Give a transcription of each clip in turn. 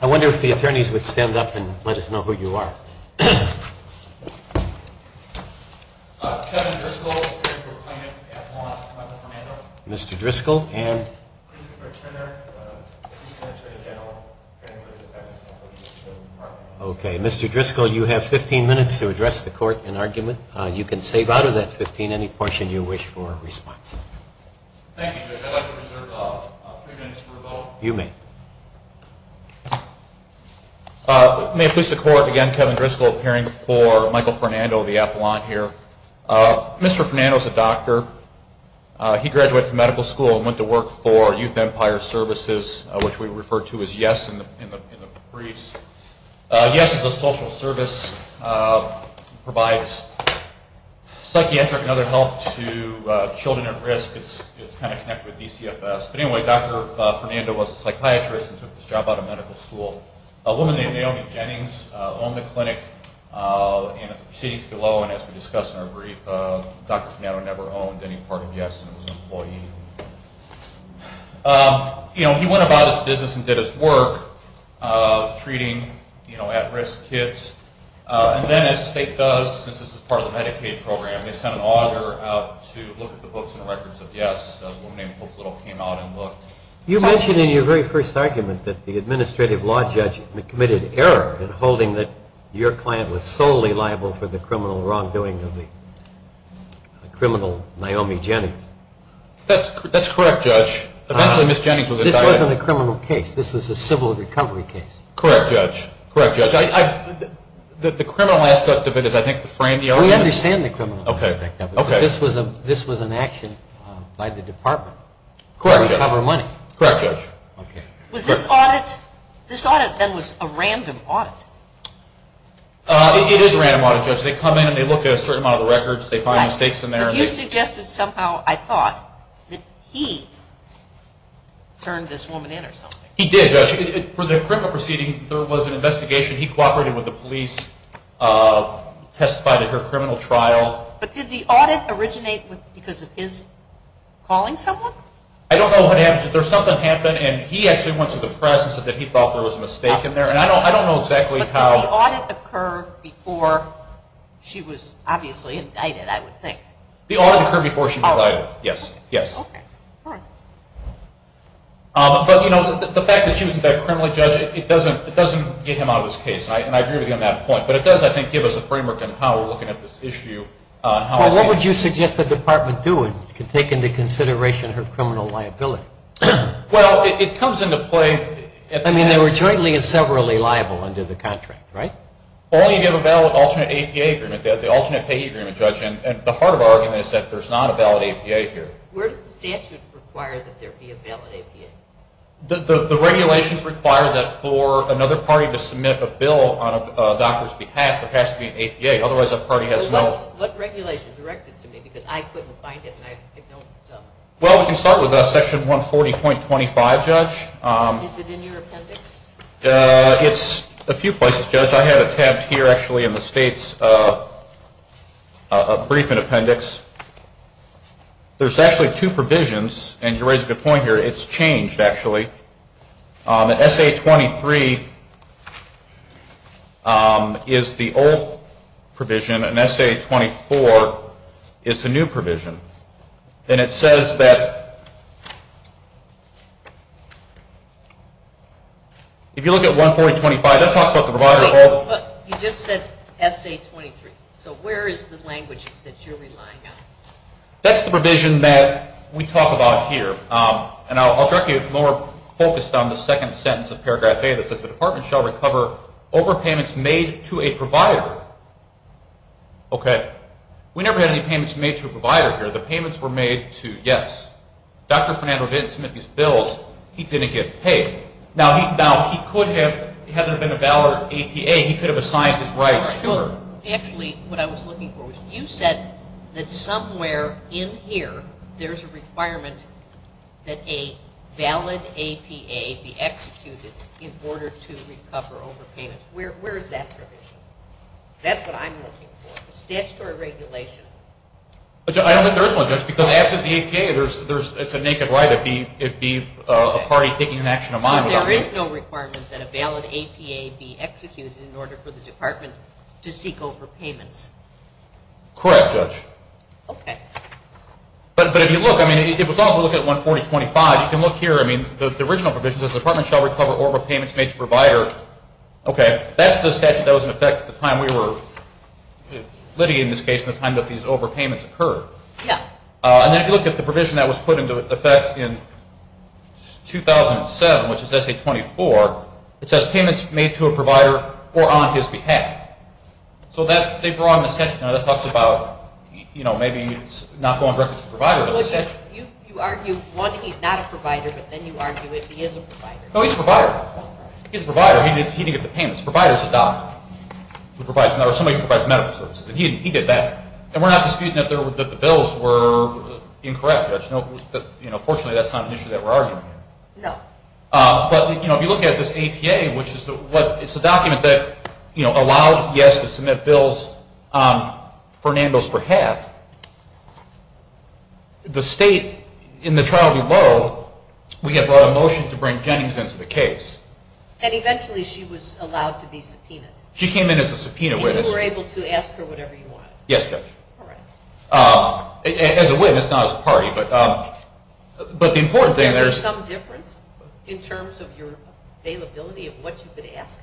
I wonder if the attorneys would stand up and let us know who you are. Mr. Driscoll, you have 15 minutes to address the court in argument. You can save out of that 15 any portion you wish for response. May it please the court, again Kevin Driscoll appearing before Michael Fernando, the appellant here. Mr. Fernando is a doctor. He graduated from medical school and went to work for Youth Empire Services, which we refer to as YES in the briefs. YES is a social service that provides psychiatric and other help to children at risk. It's connected with DCFS. Dr. Fernando was a psychiatrist and took this job out of medical school. A woman named Naomi Jennings owned the clinic. As we discussed in our brief, Dr. Fernando never owned any part of YES and was an employee. He went about his business and did his work, treating at-risk kids. And then, as the state does, since this is part of the Medicaid program, they sent an auditor out to look at the books and records of YES. A woman named Hope Little came out and looked. You mentioned in your very first argument that the administrative law judge committed error in holding that your client was solely liable for the criminal wrongdoing of the criminal Naomi Jennings. That's correct, Judge. Eventually Ms. Jennings was entitled. This wasn't a criminal case. This was a civil recovery case. Correct, Judge. Correct, Judge. The criminal aspect of it is, I think, to frame the argument. We understand the criminal aspect of it. This was an action by the department to recover money. Correct, Judge. Was this audit then a random audit? It is a random audit, Judge. They come in and look at a certain amount of the records. They find mistakes in there. But you suggested somehow, I thought, that he turned this woman in or something. He did, Judge. For the criminal proceeding, there was an investigation. He cooperated with the police, testified at her criminal trial. But did the audit originate because of his calling someone? I don't know what happened. Something happened and he actually went to the press and said that he thought there was a mistake in there. I don't know exactly how... But did the audit occur before she was obviously indicted, I would think. The audit occurred before she was indicted. Yes. Yes. But the fact that she was an indicted criminal, Judge, it doesn't get him out of his case. And I agree with you on that point. But it does, I think, give us a framework on how we're looking at this issue. What would you suggest the department do to take into consideration her criminal liability? Well, it comes into play... I mean, they were jointly and severally liable under the contract, right? Only if you have a valid alternate APA agreement, the alternate pay agreement, Judge. And the heart of our argument is that there's not a valid APA here. Where's the statute require that there be a valid APA? The regulations require that for another party to submit a bill on a doctor's behalf, there has to be an APA. Otherwise, that party has no... What regulation directed to me? Because I couldn't find it and I don't... Well, we can start with Section 140.25, Judge. Is it in your mind? It is in my mind. It's a brief in appendix. There's actually two provisions, and you raise a good point here, it's changed, actually. SA-23 is the old provision and SA-24 is the new provision. And it says that... If you look at 140.25, that talks about the provider of... You just said SA-23. So where is the language that you're relying on? That's the provision that we talk about here. And I'll direct you more focused on the second sentence of Paragraph A that says, the department shall recover overpayments made to a provider. Okay. We never had any payments made to a provider here. The payments were made to, yes, Dr. Fernando didn't submit these bills, he didn't get paid. Now, he could have, had there been a valid APA, he could have assigned his rights to her. Actually, what I was looking for was you said that somewhere in here, there's a requirement that a valid APA be executed in order to recover overpayments. Where is that provision? That's what I'm looking for. Statutory regulation. I don't think there is one, Judge, because absent the APA, it's a party taking an action of mine. So there is no requirement that a valid APA be executed in order for the department to seek overpayments. Correct, Judge. Okay. But if you look, I mean, if we look at 140.25, you can look here, I mean, the original provision says, the department shall recover overpayments made to a provider. Okay. That's the statute that was in effect at the time we were litigating this case, the time that these overpayments occurred. Yeah. And then if you look at the provision that was put into effect in 2007, which is SA-24, it says, payments made to a provider or on his behalf. So that, they brought in a section that talks about, you know, maybe it's not going directly to the provider. You argue, one, he's not a provider, but then you argue if he is a provider. No, he's a provider. He's a provider. He didn't get the payments. The provider's a doctor who provides, or somebody who provides medical services. He did that. And we're not disputing that the bills were incorrect, Judge. Fortunately, that's not an issue that we're arguing here. No. But, you know, if you look at this APA, which is the, what, it's a document that, you know, allowed, yes, to submit bills on Fernando's behalf. The state, in the trial below, we had brought a motion to bring Jennings into the case. And eventually she was allowed to be subpoenaed. She came in as a subpoena witness. And you were able to ask her whatever you wanted. Yes, Judge. All right. As a witness, not as a party. But the important thing, there's some difference in terms of your availability of what you could ask.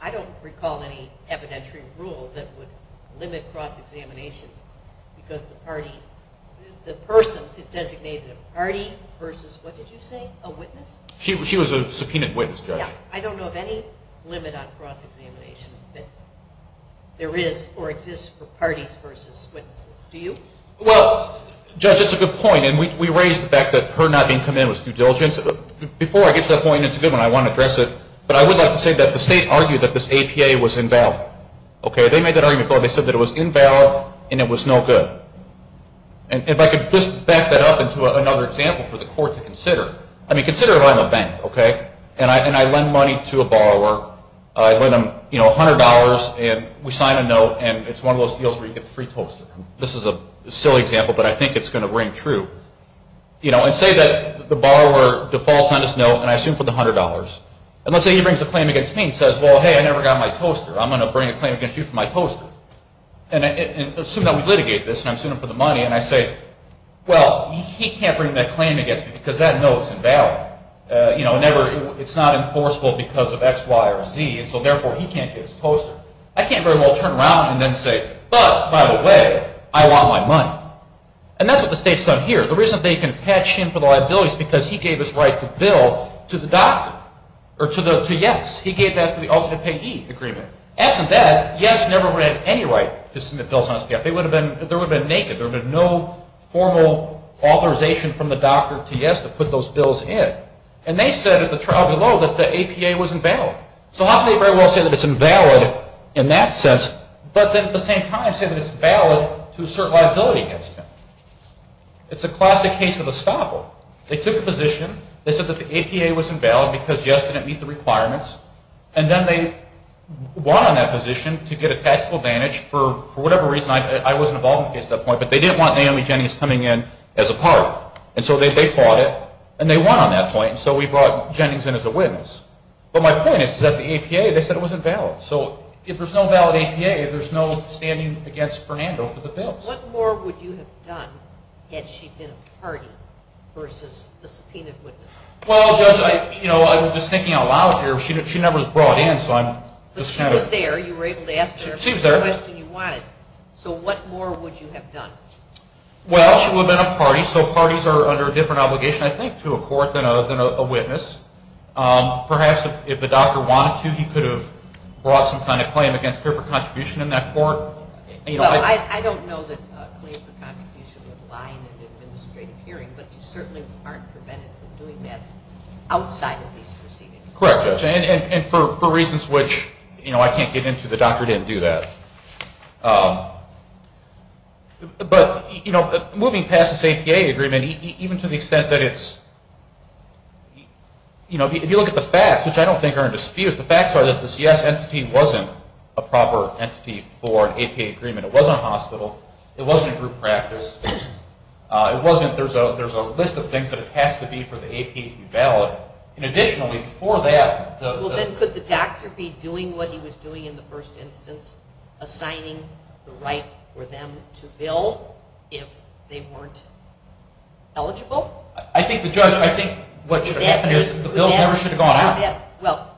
I don't recall any evidentiary rule that would limit cross-examination because the party, the person is designated a party versus, what did you say, a witness? She was a subpoenaed witness, Judge. I don't know of any limit on cross-examination that there is or exists for parties versus witnesses. Do you? Well, Judge, that's a good point. And we raised the fact that her not being come in was due diligence. Before I get to that point, and it's a good one, I want to address it. But I would like to say that the state argued that this APA was invalid. Okay? They made that argument before. They said that it was invalid and it was no good. And if I could just back that up into another example for the Court to consider. I mean, I send money to a borrower. I lend them $100 and we sign a note and it's one of those deals where you get the free toaster. This is a silly example, but I think it's going to ring true. And say that the borrower defaults on this note and I sue him for the $100. And let's say he brings a claim against me and says, well, hey, I never got my toaster. I'm going to bring a claim against you for my toaster. And assume that we litigate this and I'm suing him for the money. And I say, well, he can't bring that claim against me because that note's invalid. You know, it's not enforceable because of X, Y, or Z. And so, therefore, he can't get his toaster. I can't very well turn around and then say, but, by the way, I want my money. And that's what the state's done here. The reason they can catch him for the liability is because he gave his right to bill to the doctor or to YES. He gave that to the ultimate payee agreement. Absent that, YES never would have any right to submit bills on SPF. There would have been naked. There would have been no formal authorization from the doctor to YES to put those bills in. And they said at the trial below that the APA was invalid. So how can they very well say that it's invalid in that sense, but then at the same time say that it's valid to assert liability against him? It's a classic case of estoppel. They took a position. They said that the APA was invalid because YES didn't meet the requirements. And then they won on that position to get a tactical advantage for whatever reason. I was involved in the case at that point. But they didn't want Naomi Jennings coming in as a part of it. And so they fought it. And they won on that point. And so we brought Jennings in as a witness. But my point is that the APA, they said it was invalid. So if there's no valid APA, there's no standing against Fernando for the bills. What more would you have done had she been a party versus a subpoenaed witness? Well, Judge, I was just thinking out loud here. She never was brought in. But she was there. You were able to ask her any question you wanted. She was there. So what more would you have done? Well, she would have been a party. So parties are under a different obligation, I think, to a court than a witness. Perhaps if the doctor wanted to, he could have brought some kind of claim against her for contribution in that court. Well, I don't know that a claim for contribution would lie in an administrative hearing. But you certainly aren't prevented from doing that outside of these proceedings. Correct, Judge. And for reasons which I can't get into, the doctor didn't do that. But moving past this APA agreement, even to the extent that it's, if you look at the facts, which I don't think are in dispute, the facts are that this yes entity wasn't a proper entity for an APA agreement. It wasn't a hospital. It wasn't a group practice. There's a list of things that it has to be for the APA to be valid. And additionally, for that, the... Well, then could the doctor be doing what he was doing in the first instance, assigning the right for them to bill if they weren't eligible? I think, Judge, I think what should have happened is the bills never should have gone out. Well,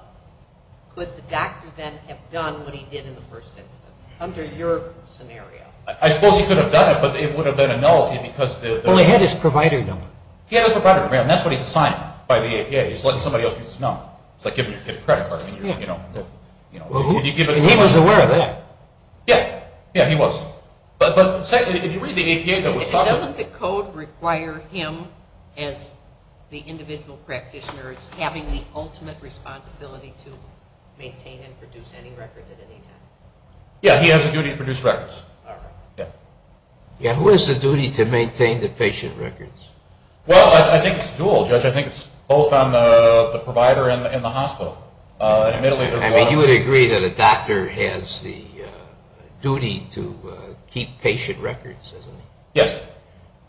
could the doctor then have done what he did in the first instance under your scenario? I suppose he could have done it, but it would have been a nullity because... Well, he had his provider number. He had his provider number, and that's what he's assigned by the APA. He's letting somebody else use his number. It's like giving your kid a credit card. He was aware of that. Yeah. Yeah, he was. But secondly, if you read the APA... Doesn't the code require him as the individual practitioner as having the ultimate responsibility to maintain and produce any records at any time? Yeah, he has a duty to produce records. Yeah, who has the duty to maintain the patient records? Well, I think it's dual, Judge. I think it's both on the provider and the hospital. I mean, you would agree that a doctor has the duty to keep patient records, isn't he? Yes.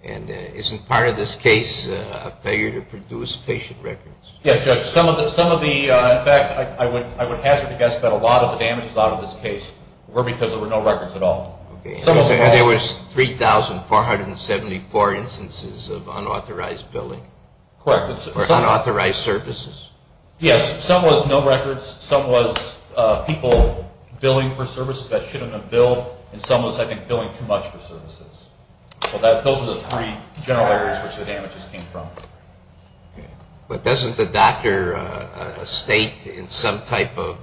And isn't part of this case a failure to produce patient records? Yes, Judge. Some of the... In fact, I would hazard to guess that a lot of the damages out of this case were because there were no records at all. Okay. And there was 3,474 instances of unauthorized billing? Correct. For unauthorized services? Yes. Some was no records. Some was people billing for services that shouldn't have been billed, and some was, I think, billing too much for services. So those are the three general areas which the damages came from. But doesn't the doctor state in some type of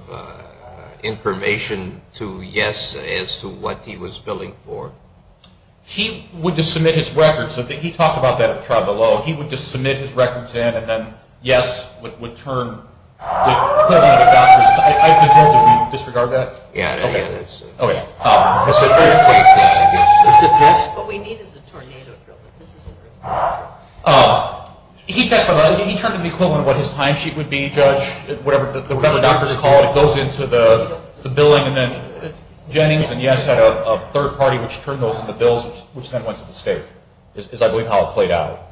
information to yes as to what he was billing for? He would just submit his records. He talked about that at the trial below. He would just submit his records in, and then yes would turn the doctor's... I pretend that we disregard that? Yeah. Okay. Is it this? Yes. What we need is a tornado drill, but this isn't a tornado drill. He testified. He turned an equivalent of what his time sheet would be, Judge, whatever doctor's call goes into the billing, and then Jennings and yes had a third party which turned those into bills which then went to the state is, I believe, how it played out.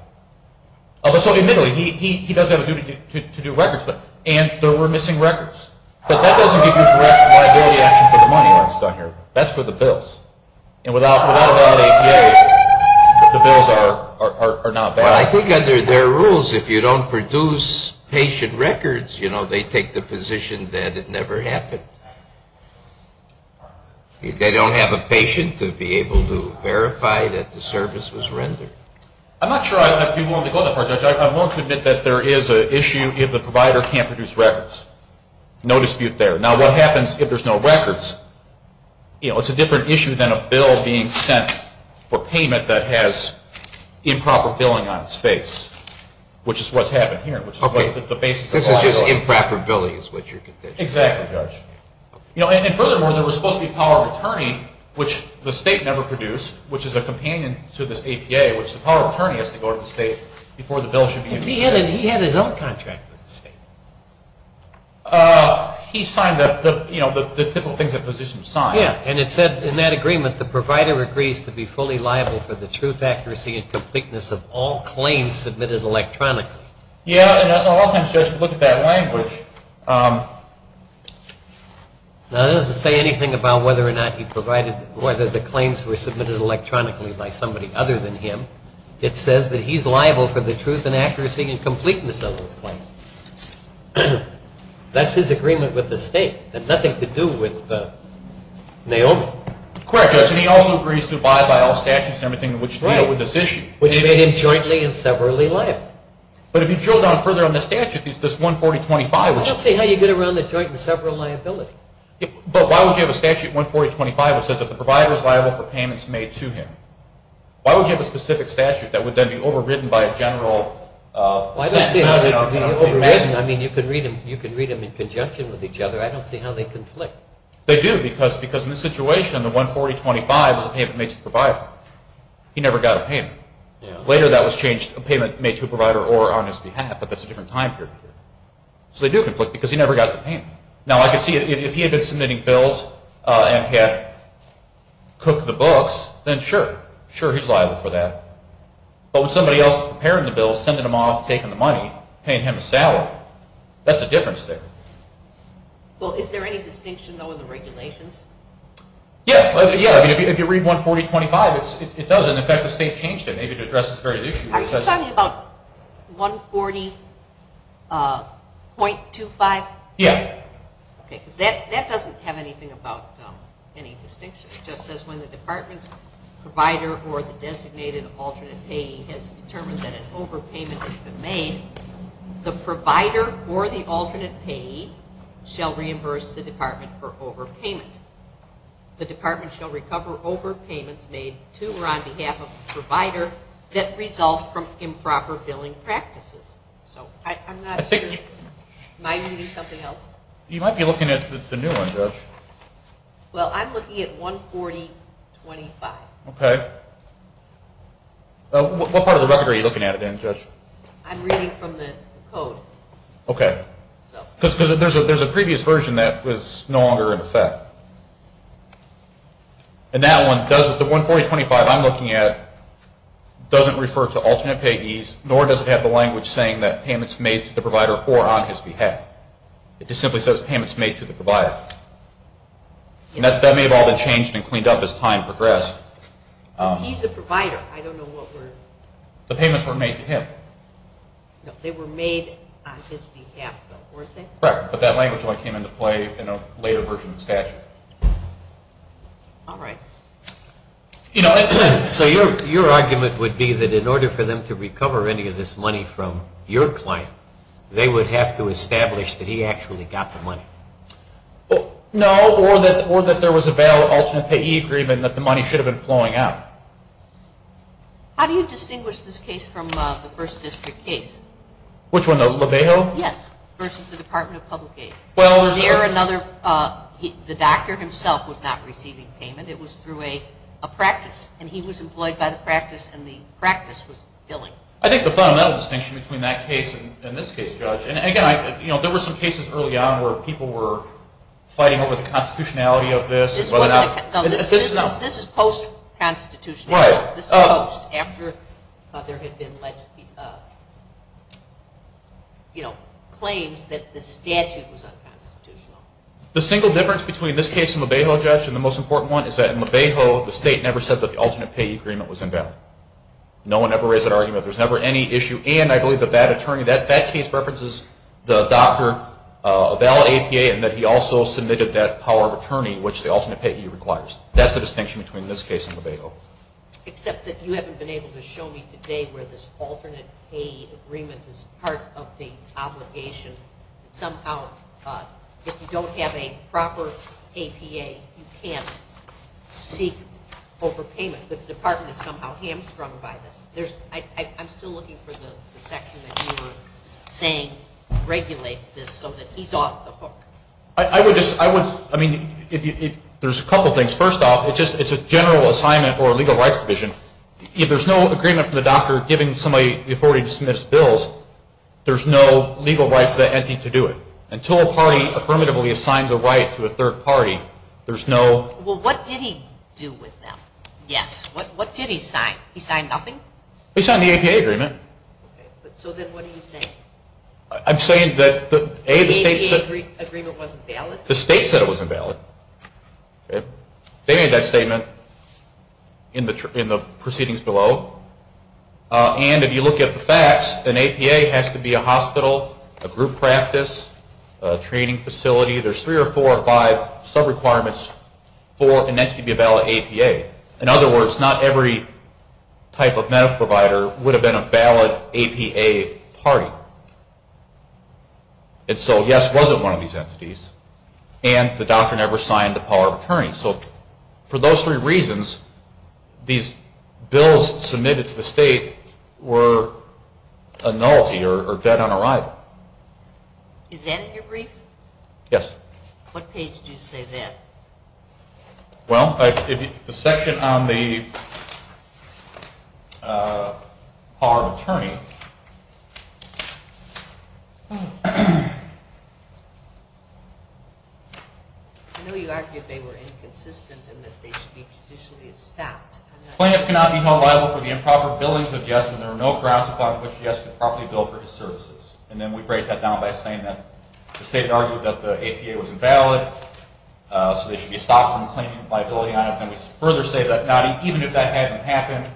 So admittedly, he does have a duty to do records, and there were missing records. But that doesn't give you direct liability action for the money that's done here. That's for the bills. And without a valid APA, the bills are not valid. Well, I think under their rules, if you don't produce patient records, they take the position that it never happened. They don't have a patient to be able to verify that the service was rendered. I'm not sure I'd be willing to go that far, Judge. I'm willing to admit that there is an issue if the provider can't produce records. No dispute there. Now, what happens if there's no records? It's a different issue than a bill being sent for payment that has improper billing on its face, which is what's happened here, which is the basis of liability. This is just improper billing is what you're contending. Exactly, Judge. And furthermore, there was supposed to be a power of attorney, which the state never produced, which is a companion to this APA, which the power of attorney has to go to the state before the bill should be issued. He had his own contract with the state. He signed the typical things that physicians sign. Yeah, and it said in that agreement, the provider agrees to be fully liable for the truth, accuracy, and completeness of all claims submitted electronically. Yeah, and oftentimes, Judge, look at that language. Now, it doesn't say anything about whether or not he provided or whether the claims were submitted electronically by somebody other than him. It says that he's liable for the truth and accuracy and completeness of his claims. That's his agreement with the state. It had nothing to do with Naomi. Correct, Judge. And he also agrees to abide by all statutes and everything in which deal with this issue. Which made him jointly and severally liable. But if you drill down further on the statute, this 14025, which… I don't see how you get around the joint and sever liability. But why would you have a statute 14025 which says that the provider is liable for payments made to him? Why would you have a specific statute that would then be overridden by a general… I don't see how they would be overridden. I mean, you could read them in conjunction with each other. I don't see how they conflict. They do, because in this situation, the 14025 is a payment made to the provider. He never got a payment. Later, that was changed, a payment made to a provider or on his behalf, but that's a different time period. So they do conflict, because he never got the payment. Now, I could see if he had been submitting bills and had cooked the books, then sure. Sure, he's liable for that. But when somebody else is preparing the bills, sending them off, taking the money, paying him a salary, that's a difference there. Well, is there any distinction, though, in the regulations? Yeah. If you read 14025, it doesn't. In fact, the state changed it, maybe to address this very issue. Are you talking about 140.25? Yeah. Okay, because that doesn't have anything about any distinction. It just says when the department's provider or the designated alternate payee has determined that an overpayment has been made, the provider or the alternate payee shall reimburse the department for overpayment. The department shall recover overpayments made to or on behalf of the provider that result from improper billing practices. I'm not sure. Am I reading something else? You might be looking at the new one, Judge. Well, I'm looking at 140.25. Okay. What part of the record are you looking at it in, Judge? I'm reading from the code. Okay. Because there's a previous version that was no longer in effect. And that one, the 140.25 I'm looking at doesn't refer to alternate payees nor does it have the language saying that payments made to the provider or on his behalf. It just simply says payments made to the provider. And that may have all been changed and cleaned up as time progressed. He's a provider. I don't know what we're – The payments were made to him. No, they were made on his behalf, though, weren't they? Correct. But that language only came into play in a later version of the statute. All right. You know, so your argument would be that in order for them to recover any of this money from your client, they would have to establish that he actually got the money. No, or that there was a valid alternate payee agreement that the money should have been flowing out. How do you distinguish this case from the First District case? Which one, the LaBeo? Yes, versus the Department of Public Aid. Well, there's – the doctor himself was not receiving payment. It was through a practice, and he was employed by the practice, and the practice was billing. I think the fundamental distinction between that case and this case, Judge – and, again, there were some cases early on where people were fighting over the constitutionality of this. This is post-constitutionality. Right. Post, after there had been claims that the statute was unconstitutional. The single difference between this case and LaBeo, Judge, and the most important one is that in LaBeo, the state never said that the alternate payee agreement was invalid. No one ever raised that argument. There's never any issue, and I believe that that attorney – that case references the doctor, a valid APA, and that he also submitted that power of attorney, which the alternate payee requires. That's the distinction between this case and LaBeo. Except that you haven't been able to show me today where this alternate payee agreement is part of the obligation. Somehow, if you don't have a proper APA, you can't seek overpayment. The department is somehow hamstrung by this. There's – I'm still looking for the section that you were saying regulates this so that he's off the hook. I would just – I would – I mean, if you – there's a couple things. First off, it's a general assignment or a legal rights provision. If there's no agreement from the doctor giving somebody the authority to submit his bills, there's no legal right for the entity to do it. Until a party affirmatively assigns a right to a third party, there's no – Well, what did he do with them? Yes. What did he sign? He signed nothing? He signed the APA agreement. Okay, but so then what do you say? I'm saying that, A, the state said – The APA agreement wasn't valid? The state said it wasn't valid. They made that statement in the proceedings below. And if you look at the facts, an APA has to be a hospital, a group practice, a training facility. There's three or four or five sub-requirements for an entity to be a valid APA. In other words, not every type of medical provider would have been a valid APA party. And so, yes, it wasn't one of these entities, and the doctor never signed the power of attorney. So for those three reasons, these bills submitted to the state were a nullity or dead on arrival. Is that your brief? Yes. What page do you say that? Well, the section on the power of attorney. I know you argued they were inconsistent and that they should be traditionally staffed. Plaintiffs cannot be held liable for the improper billings of yes when there are no grounds upon which yes could properly bill for his services. And then we break that down by saying that the state argued that the APA was invalid. So they should be staffed from claiming liability on it. And we further say that even if that hadn't happened,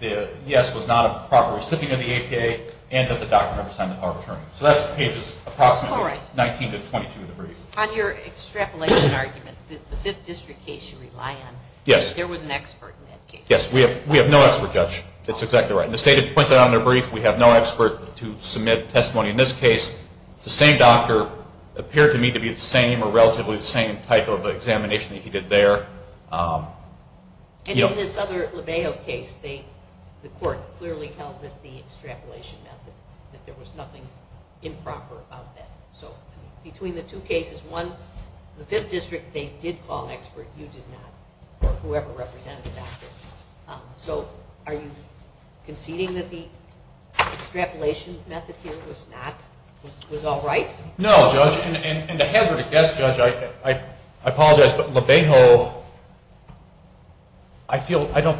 the yes was not a proper recipient of the APA and that the doctor never signed the power of attorney. So that's pages approximately 19 to 22 of the brief. All right. On your extrapolation argument, the 5th District case you rely on, there was an expert in that case. Yes. We have no expert, Judge. That's exactly right. And the state points that out in their brief. We have no expert to submit testimony. In this case, the same doctor appeared to me to be the same or relatively the same type of examination that he did there. And in this other LeBeo case, the court clearly held that the extrapolation method, that there was nothing improper about that. So between the two cases, one, the 5th District, they did call an expert. You did not or whoever represented the doctor. So are you conceding that the extrapolation method here was not, was all right? No, Judge. And to hazard a guess, Judge, I apologize, but LeBeo, I feel, I don't,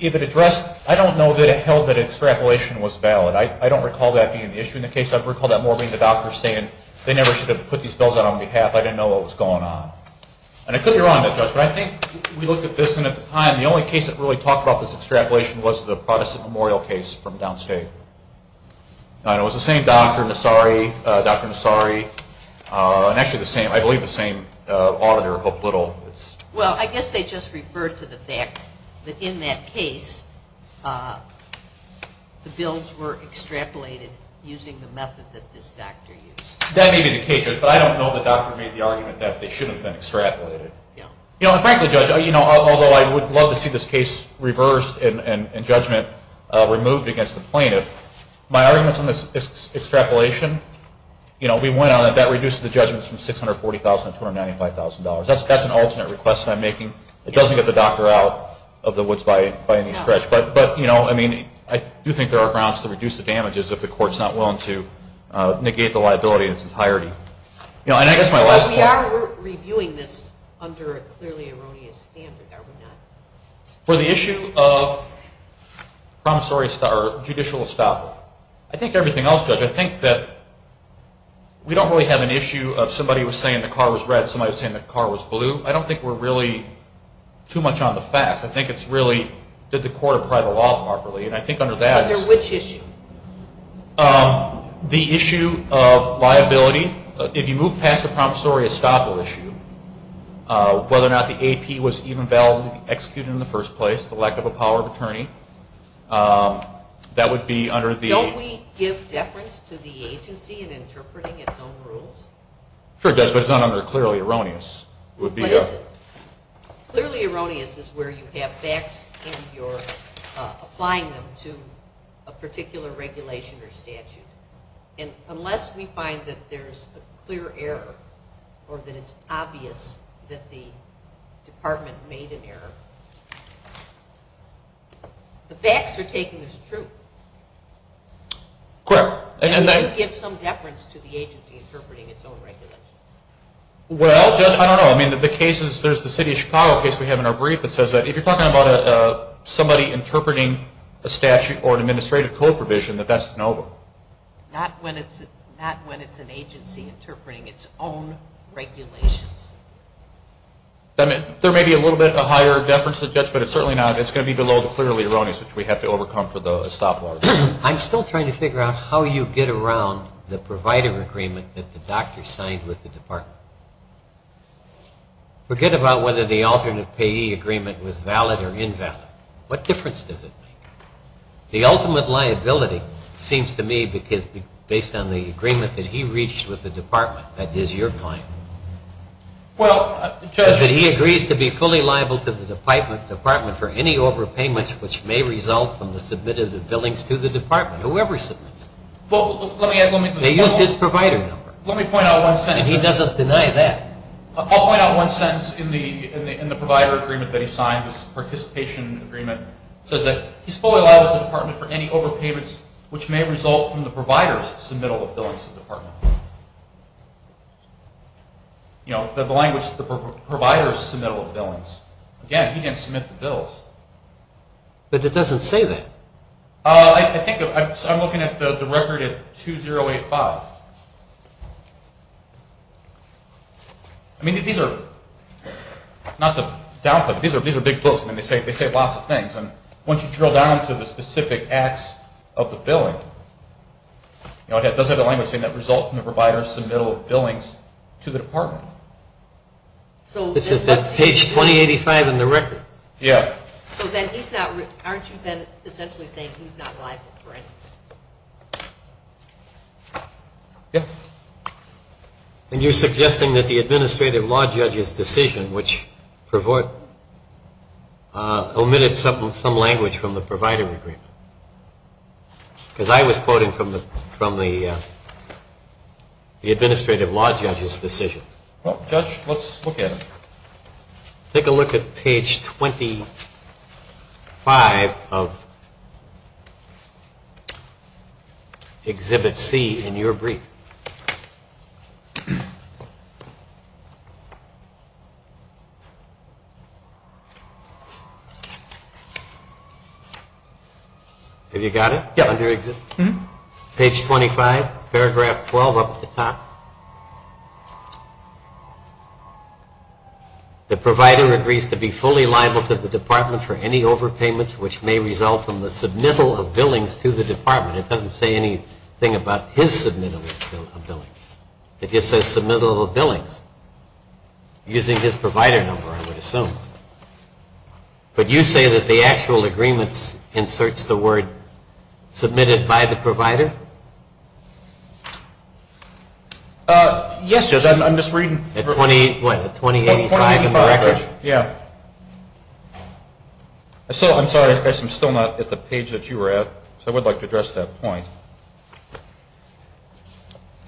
if it addressed, I don't know that it held that extrapolation was valid. I don't recall that being an issue in the case. I recall that more being the doctor saying they never should have put these bills out on behalf. I didn't know what was going on. And it could be wrong, Judge, but I think we looked at this and at the time the only case that really talked about this extrapolation was the Protestant Memorial case from downstate. And it was the same doctor, Dr. Nassari, and actually the same, I believe the same auditor, Hope Little. Well, I guess they just referred to the fact that in that case, the bills were extrapolated using the method that this doctor used. That may be the case, Judge, but I don't know the doctor made the argument that they shouldn't have been extrapolated. And frankly, Judge, although I would love to see this case reversed and judgment removed against the plaintiff, my arguments on this extrapolation, we went on it, that reduces the judgment from $640,000 to $295,000. That's an alternate request that I'm making. It doesn't get the doctor out of the woods by any stretch. But I do think there are grounds to reduce the damages if the court is not willing to negate the liability in its entirety. We are reviewing this under a clearly erroneous standard, are we not? For the issue of judicial estoppel, I think everything else, Judge, I think that we don't really have an issue of somebody was saying the car was red, somebody was saying the car was blue. I don't think we're really too much on the facts. I think it's really, did the court apply the law properly? Under which issue? The issue of liability. If you move past the promissory estoppel issue, whether or not the AP was even valid to be executed in the first place, the lack of a power of attorney, that would be under the… Don't we give deference to the agency in interpreting its own rules? Sure, Judge, but it's not under clearly erroneous. It would be… Clearly erroneous is where you have facts and you're applying them to a particular regulation or statute. And unless we find that there's a clear error or that it's obvious that the department made an error, the facts are taken as true. Correct. And we do give some deference to the agency interpreting its own regulations. Well, Judge, I don't know. I mean, the cases, there's the city of Chicago case we have in our brief that says that if you're talking about somebody interpreting a statute or an administrative code provision, that that's no… Not when it's an agency interpreting its own regulations. I mean, there may be a little bit of a higher deference to the judge, but it's certainly not. It's going to be below the clearly erroneous, which we have to overcome for the estoppel argument. I'm still trying to figure out how you get around the provider agreement that the doctor signed with the department. Forget about whether the alternate payee agreement was valid or invalid. What difference does it make? The ultimate liability seems to me, because based on the agreement that he reached with the department, that is your point. Well, Judge… That he agrees to be fully liable to the department for any overpayments which may result from the submit of the billings to the department, whoever submits it. Well, let me… They used his provider number. Let me point out one sentence. And he doesn't deny that. I'll point out one sentence in the provider agreement that he signed, his participation agreement. It says that he's fully liable to the department for any overpayments which may result from the provider's submittal of billings to the department. You know, the language, the provider's submittal of billings. Again, he didn't submit the bills. But it doesn't say that. I'm looking at the record at 2085. I mean, these are, not to downplay, but these are big books and they say lots of things. And once you drill down to the specific acts of the billing, it does have the language saying that results from the provider's submittal of billings to the department. This is page 2085 in the record. Yeah. So then he's not… Aren't you then essentially saying he's not liable for anything? Yeah. And you're suggesting that the administrative law judge's decision, which omitted some language from the provider agreement. Because I was quoting from the administrative law judge's decision. Well, Judge, let's look at it. Take a look at page 25 of Exhibit C in your brief. Have you got it? Yeah. Page 25, paragraph 12 up at the top. The provider agrees to be fully liable to the department for any overpayments which may result from the submittal of billings to the department. It doesn't say anything about his submittal of billings. It just says submittal of billings using his provider number, I would assume. But you say that the actual agreements inserts the word submitted by the provider? Yes, Judge. I'm just reading. At 2085 in the record? Yeah. I'm sorry, Judge, I'm still not at the page that you were at. So I would like to address that point.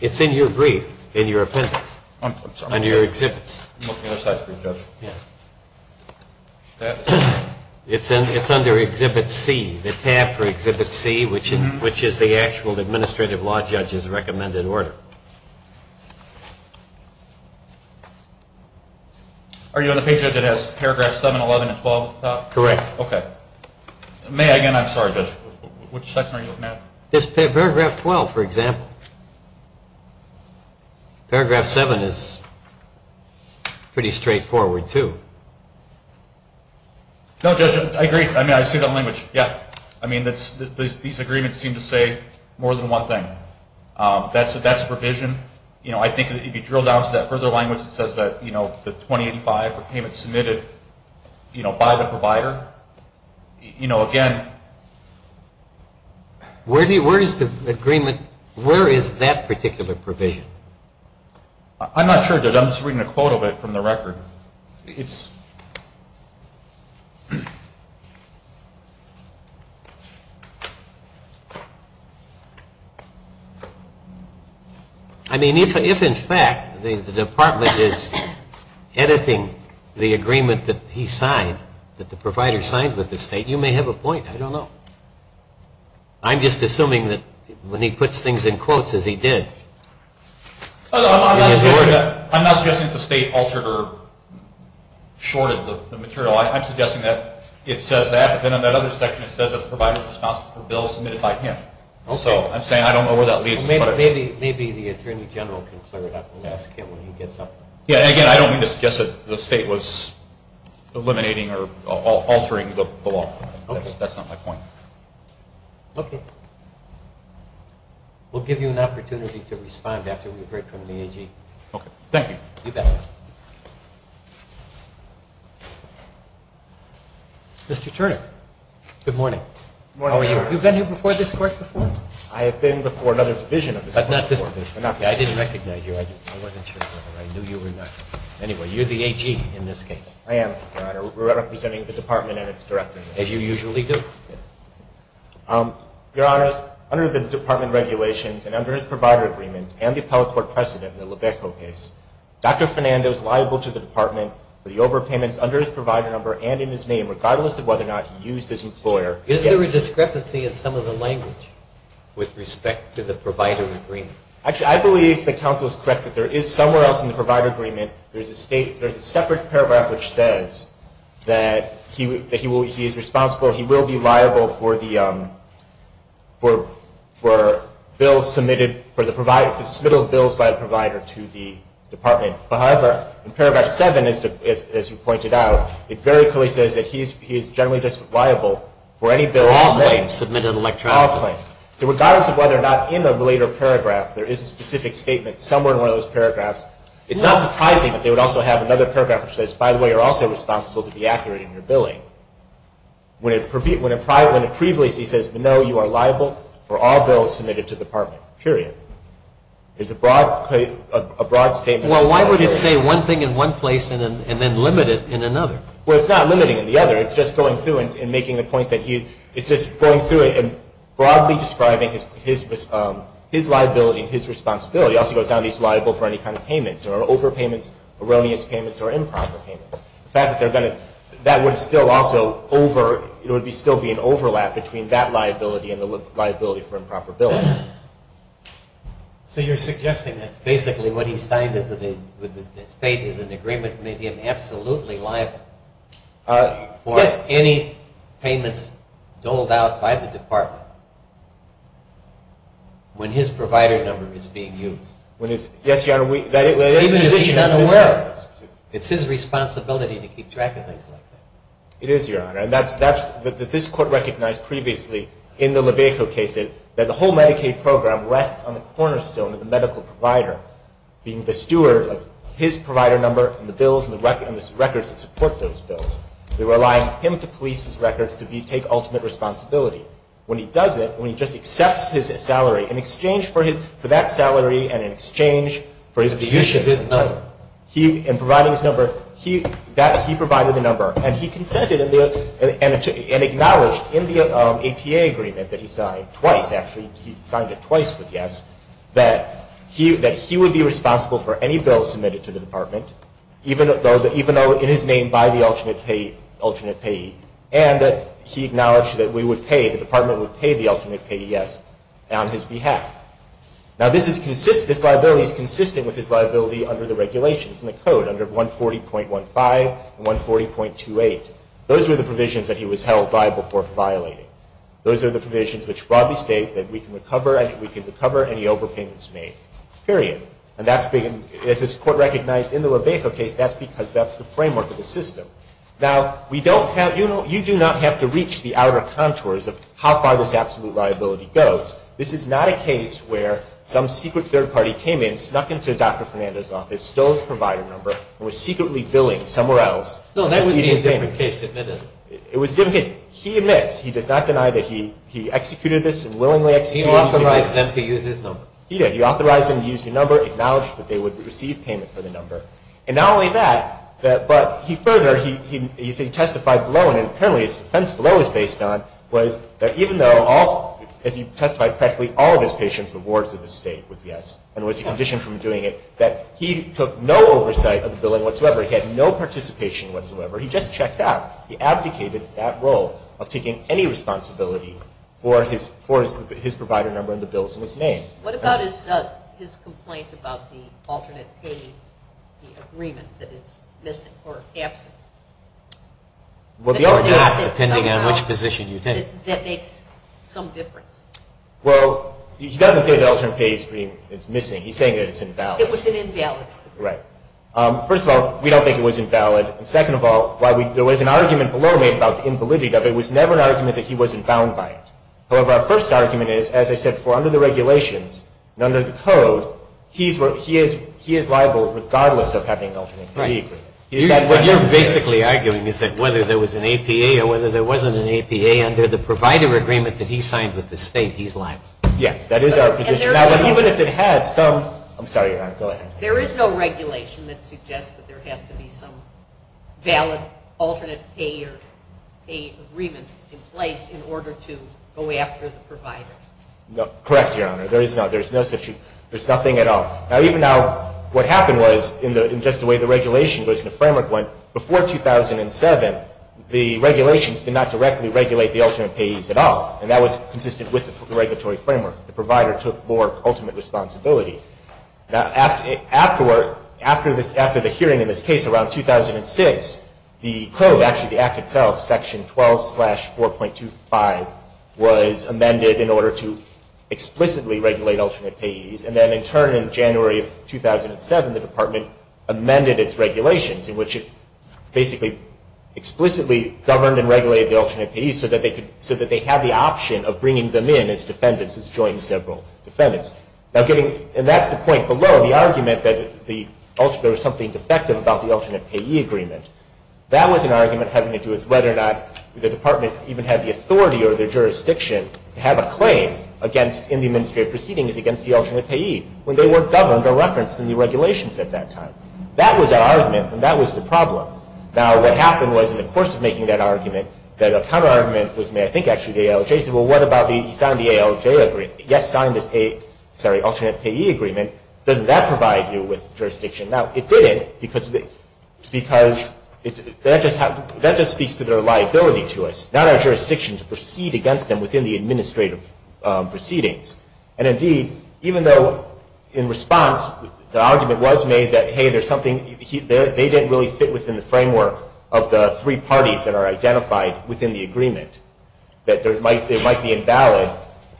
It's in your brief, in your appendix. I'm sorry. Under your exhibits. It's under Exhibit C, the tab for Exhibit C, which is the actual administrative law judge's recommended order. Are you on the page, Judge, that has paragraphs 7, 11, and 12 at the top? Correct. Okay. May I again? I'm sorry, Judge. Which section are you looking at? Paragraph 12, for example. Paragraph 7 is pretty straightforward, too. No, Judge, I agree. I mean, I see the language. Yeah. I mean, these agreements seem to say more than one thing. That's provision. You know, I think if you drill down to that further language that says that, you know, the 2085 for payment submitted, you know, by the provider, you know, again. Where is the agreement, where is that particular provision? I'm not sure, Judge. I'm just reading a quote of it from the record. I mean, if, in fact, the department is editing the agreement that he signed, that the provider signed with the state, you may have a point. I don't know. I'm just assuming that when he puts things in quotes as he did. I'm not suggesting that the state altered or shorted the material. I'm suggesting that it says that. But then on that other section, it says that the provider's responsible for bills submitted by him. So I'm saying I don't know where that leads. Maybe the Attorney General can clear it up and ask him when he gets up. Yeah, and, again, I don't mean to suggest that the state was eliminating or altering the law. That's not my point. Okay. We'll give you an opportunity to respond after we've heard from the AG. Okay, thank you. You bet. Mr. Turner, good morning. Good morning, Your Honor. How are you? Have you been here before, this court, before? I have been before another division of this court before. But not this division. I didn't recognize you. I wasn't sure whether I knew you or not. Anyway, you're the AG in this case. I am, Your Honor. We're representing the department and its director. As you usually do. Your Honor, under the department regulations and under his provider agreement and the appellate court precedent in the Lebeco case, Dr. Fernando is liable to the department for the overpayments under his provider number and in his name, regardless of whether or not he used his employer. Is there a discrepancy in some of the language with respect to the provider agreement? Actually, I believe the counsel is correct that there is somewhere else in the provider agreement. There's a separate paragraph which says that he is responsible. He will be liable for bills submitted for the provider, for the submittal of bills by the provider to the department. However, in Paragraph 7, as you pointed out, it very clearly says that he is generally just liable for any bills submitted. All claims submitted electronically. All claims. So regardless of whether or not in a later paragraph there is a specific statement, somewhere in one of those paragraphs, it's not surprising that they would also have another paragraph which says, by the way, you're also responsible to be accurate in your billing. When it prevails, he says, no, you are liable for all bills submitted to the department, period. It's a broad statement. Well, why would it say one thing in one place and then limit it in another? Well, it's not limiting in the other. It's just going through and making a point that he's, it's just going through it and broadly describing his liability and his responsibility. It also goes down to he's liable for any kind of payments or overpayments, erroneous payments or improper payments. The fact that they're going to, that would still also over, it would still be an overlap between that liability and the liability for improper billing. So you're suggesting that basically what he's saying is that the state is in agreement with making him absolutely liable for any payments doled out by the department when his provider number is being used. Yes, Your Honor. Even if he's unaware. It's his responsibility to keep track of things like that. It is, Your Honor. And that's, that this Court recognized previously in the Lebecco case that the whole Medicaid program rests on the cornerstone of the medical provider being the steward of his provider number and the bills and the records that support those bills. They rely on him to police his records to take ultimate responsibility. When he does it, when he just accepts his salary in exchange for his, for that salary and in exchange for his position. The use of his number. He, in providing his number, he, that, he provided the number. And he consented in the, and acknowledged in the APA agreement that he signed, twice actually, he signed it twice with yes, that he would be responsible for any bills submitted to the department, even though in his name by the alternate payee, alternate payee, and that he acknowledged that we would pay, the department would pay the alternate payee, yes, on his behalf. Now this is consistent, this liability is consistent with his liability under the regulations, in the code, under 140.15 and 140.28. Those were the provisions that he was held by before violating. Those are the provisions which broadly state that we can recover, we can recover any overpayments made, period. And that's been, as this Court recognized in the Lebecco case, that's because that's the framework of the system. Now we don't have, you do not have to reach the outer contours of how far this absolute liability goes. This is not a case where some secret third party came in, snuck into Dr. Fernando's office, stole his provider number, and was secretly billing somewhere else. No, that would be a different case. It was a different case. He admits, he does not deny that he executed this and willingly executed this. He authorized them to use his number. He did. acknowledged that they would receive payment for the number. And not only that, but he further, he testified below, and apparently his defense below is based on, was that even though all, as he testified practically all of his patients, the wards of the state would yes, and was he conditioned from doing it, that he took no oversight of the billing whatsoever. He had no participation whatsoever. He just checked out. He abdicated that role of taking any responsibility for his provider number and the bills in his name. What about his complaint about the alternate pay agreement, that it's missing or absent? Well, depending on which position you take. That makes some difference. Well, he doesn't say the alternate pay agreement is missing. He's saying that it's invalid. It was an invalid. Right. First of all, we don't think it was invalid. Second of all, there was an argument below made about the invalidity of it. It was never an argument that he wasn't bound by it. However, our first argument is, as I said before, under the regulations and under the code, he is liable regardless of having an alternate pay agreement. Right. What you're basically arguing is that whether there was an APA or whether there wasn't an APA under the provider agreement that he signed with the state, he's liable. Yes. That is our position. Now, even if it had some, I'm sorry. Go ahead. There is no regulation that suggests that there has to be some valid alternate pay agreements in place in order to go after the provider. No. Correct, Your Honor. There is no such issue. There's nothing at all. Now, even now, what happened was, in just the way the regulation goes in the framework went, before 2007, the regulations did not directly regulate the alternate payees at all. And that was consistent with the regulatory framework. The provider took more ultimate responsibility. Now, after the hearing in this case around 2006, the code, actually the Act itself, Section 12-4.25, was amended in order to explicitly regulate alternate payees. And then, in turn, in January of 2007, the Department amended its regulations, in which it basically explicitly governed and regulated the alternate payees so that they had the option of bringing them in as defendants, as joint and several defendants. And that's the point below. The argument that there was something defective about the alternate payee agreement, that was an argument having to do with whether or not the Department even had the authority or their jurisdiction to have a claim in the administrative proceedings against the alternate payee when they weren't governed or referenced in the regulations at that time. That was our argument, and that was the problem. Now, what happened was, in the course of making that argument, that a counterargument was made, I think actually the ALJ said, well, what about the sign of the ALJ agreement? Yes, sign this alternate payee agreement. Doesn't that provide you with jurisdiction? Now, it didn't because that just speaks to their liability to us, not our jurisdiction to proceed against them within the administrative proceedings. And, indeed, even though in response the argument was made that, hey, they didn't really fit within the framework of the three parties that are identified within the agreement, that it might be invalid,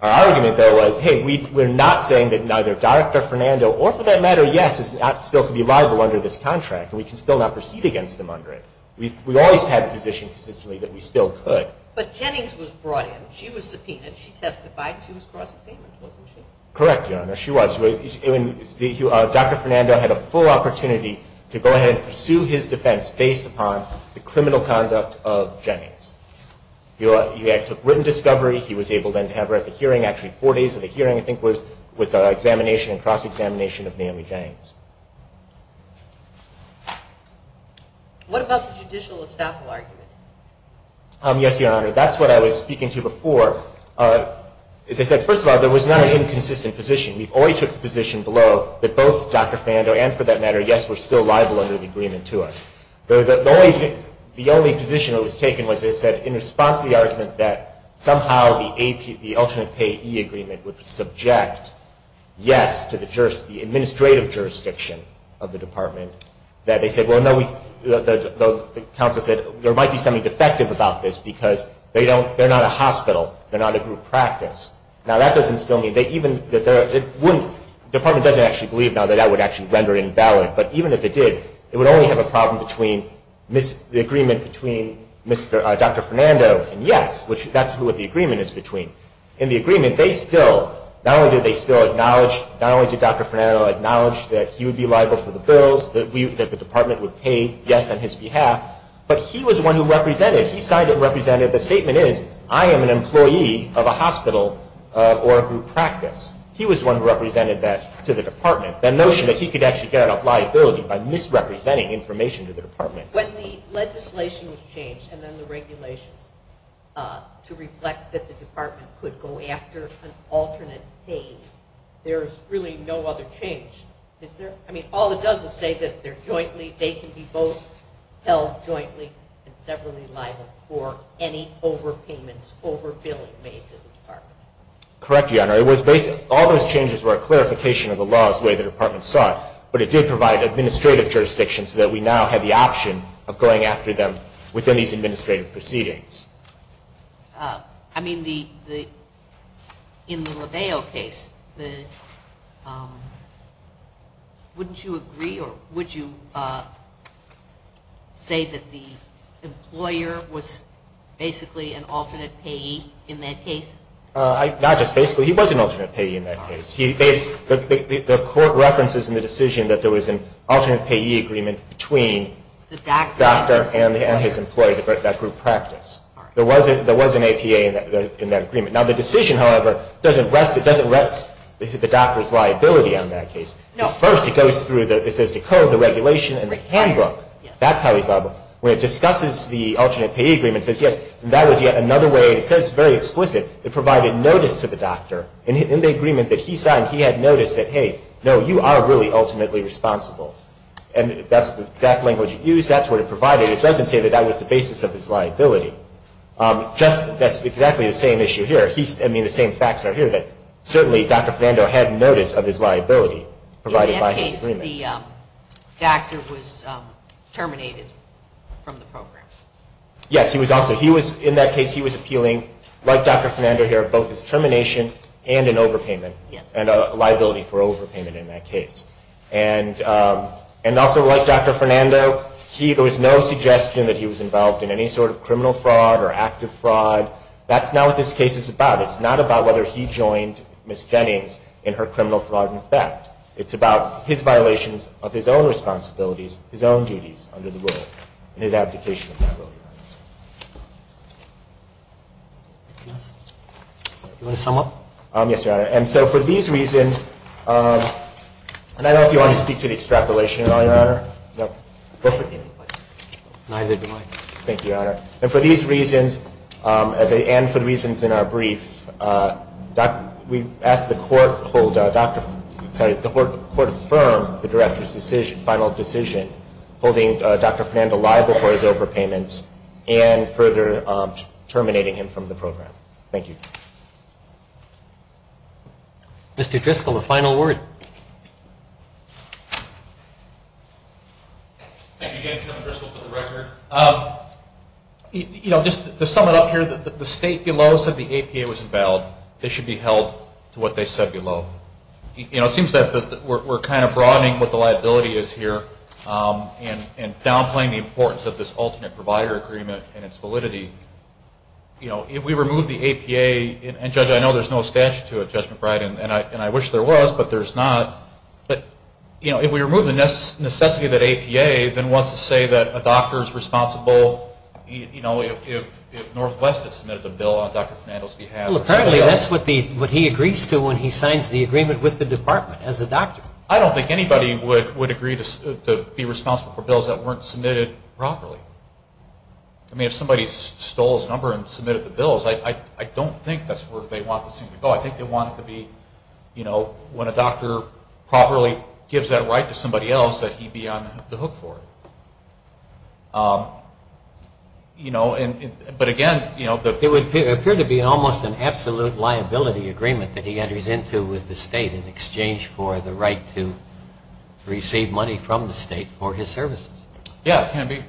our argument, though, was, hey, we're not saying that neither Dr. Fernando or, for that matter, yes, still could be liable under this contract, and we can still not proceed against them under it. We always had the position consistently that we still could. But Jennings was brought in. She was subpoenaed. She testified. She was cross-examined, wasn't she? Correct, Your Honor. She was. He took written discovery. He was able, then, to have her at the hearing. Actually, four days of the hearing, I think, was the examination and cross-examination of Naomi Janes. What about the judicial estafa argument? Yes, Your Honor. That's what I was speaking to before. As I said, first of all, there was not an inconsistent position. We always took the position below that both Dr. Fernando and, for that matter, yes, were still liable under the agreement to us. The only position that was taken was, as I said, in response to the argument that somehow the alternate payee agreement would subject, yes, to the administrative jurisdiction of the department, that they said, well, no, the counsel said, there might be something defective about this because they're not a hospital. They're not a group practice. Now, that doesn't still mean they even, the department doesn't actually believe now that that would actually render invalid. But even if it did, it would only have a problem between the agreement between Dr. Fernando and yes, which that's what the agreement is between. In the agreement, they still, not only did they still acknowledge, not only did Dr. Fernando acknowledge that he would be liable for the bills, that the department would pay yes on his behalf, but he was the one who represented. He signed it and represented. The statement is, I am an employee of a hospital or a group practice. He was the one who represented that to the department. The notion that he could actually get a liability by misrepresenting information to the department. When the legislation was changed and then the regulations to reflect that the department could go after an alternate payee, there is really no other change. Is there? I mean, all it does is say that they're jointly, they can be both held jointly and severally liable for any overpayments, over billing made to the department. Correct, Your Honor. All those changes were a clarification of the laws the way the department saw it, but it did provide administrative jurisdiction so that we now have the option of going after them within these administrative proceedings. I mean, in the Leveo case, wouldn't you agree or would you say that the employer was basically an alternate payee in that case? Not just basically. He was an alternate payee in that case. The court references in the decision that there was an alternate payee agreement between the doctor and his employee, that group practice. There was an APA in that agreement. Now, the decision, however, doesn't rest the doctor's liability on that case. First, it goes through, it says the code, the regulation, and the handbook. That's how he's liable. When it discusses the alternate payee agreement, it says, yes, and that was yet another way, and it says very explicit, it provided notice to the doctor. In the agreement that he signed, he had noticed that, hey, no, you are really ultimately responsible, and that's the exact language used. That's what it provided. It doesn't say that that was the basis of his liability. That's exactly the same issue here. I mean, the same facts are here that certainly Dr. Fernando had notice of his liability provided by his agreement. In that case, the doctor was terminated from the program. Yes, he was also, in that case, he was appealing, like Dr. Fernando here, both his termination and an overpayment, and a liability for overpayment in that case. And also, like Dr. Fernando, there was no suggestion that he was involved in any sort of criminal fraud or active fraud. That's not what this case is about. It's not about whether he joined Ms. Jennings in her criminal fraud and theft. It's about his violations of his own responsibilities, his own duties under the law, and his abdication of that will, Your Honor. Anything else? Do you want to sum up? Yes, Your Honor. And so for these reasons, and I don't know if you want to speak to the extrapolation at all, Your Honor. No. Neither do I. Thank you, Your Honor. And for these reasons, and for the reasons in our brief, we asked the court to hold Dr. Fernando liable for his overpayments and further terminating him from the program. Thank you. Mr. Driscoll, a final word. Thank you again, Chairman Driscoll, for the record. You know, just to sum it up here, the State below said the APA was invalid. This should be held to what they said below. You know, it seems that we're kind of broadening what the liability is here and downplaying the importance of this alternate provider agreement and its validity. You know, if we remove the APA, and, Judge, I know there's no statute to it, Judge McBride, and I wish there was, but there's not. But, you know, if we remove the necessity of that APA, then what's to say that a doctor is responsible, you know, if Northwest had submitted a bill on Dr. Fernando's behalf? Well, apparently that's what he agrees to when he signs the agreement with the department as a doctor. I don't think anybody would agree to be responsible for bills that weren't submitted properly. I mean, if somebody stole his number and submitted the bills, I don't think that's where they want the suit to go. I think they want it to be, you know, when a doctor properly gives that right to somebody else, that he be on the hook for it. You know, but again, you know. It would appear to be almost an absolute liability agreement that he enters into with the state in exchange for the right to receive money from the state for his services. Yeah, it can be.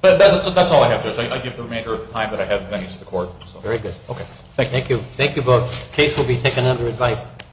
But that's all I have, Judge. I give the remainder of the time that I have to the court. Very good. Thank you. Thank you both. The case will be taken under advice.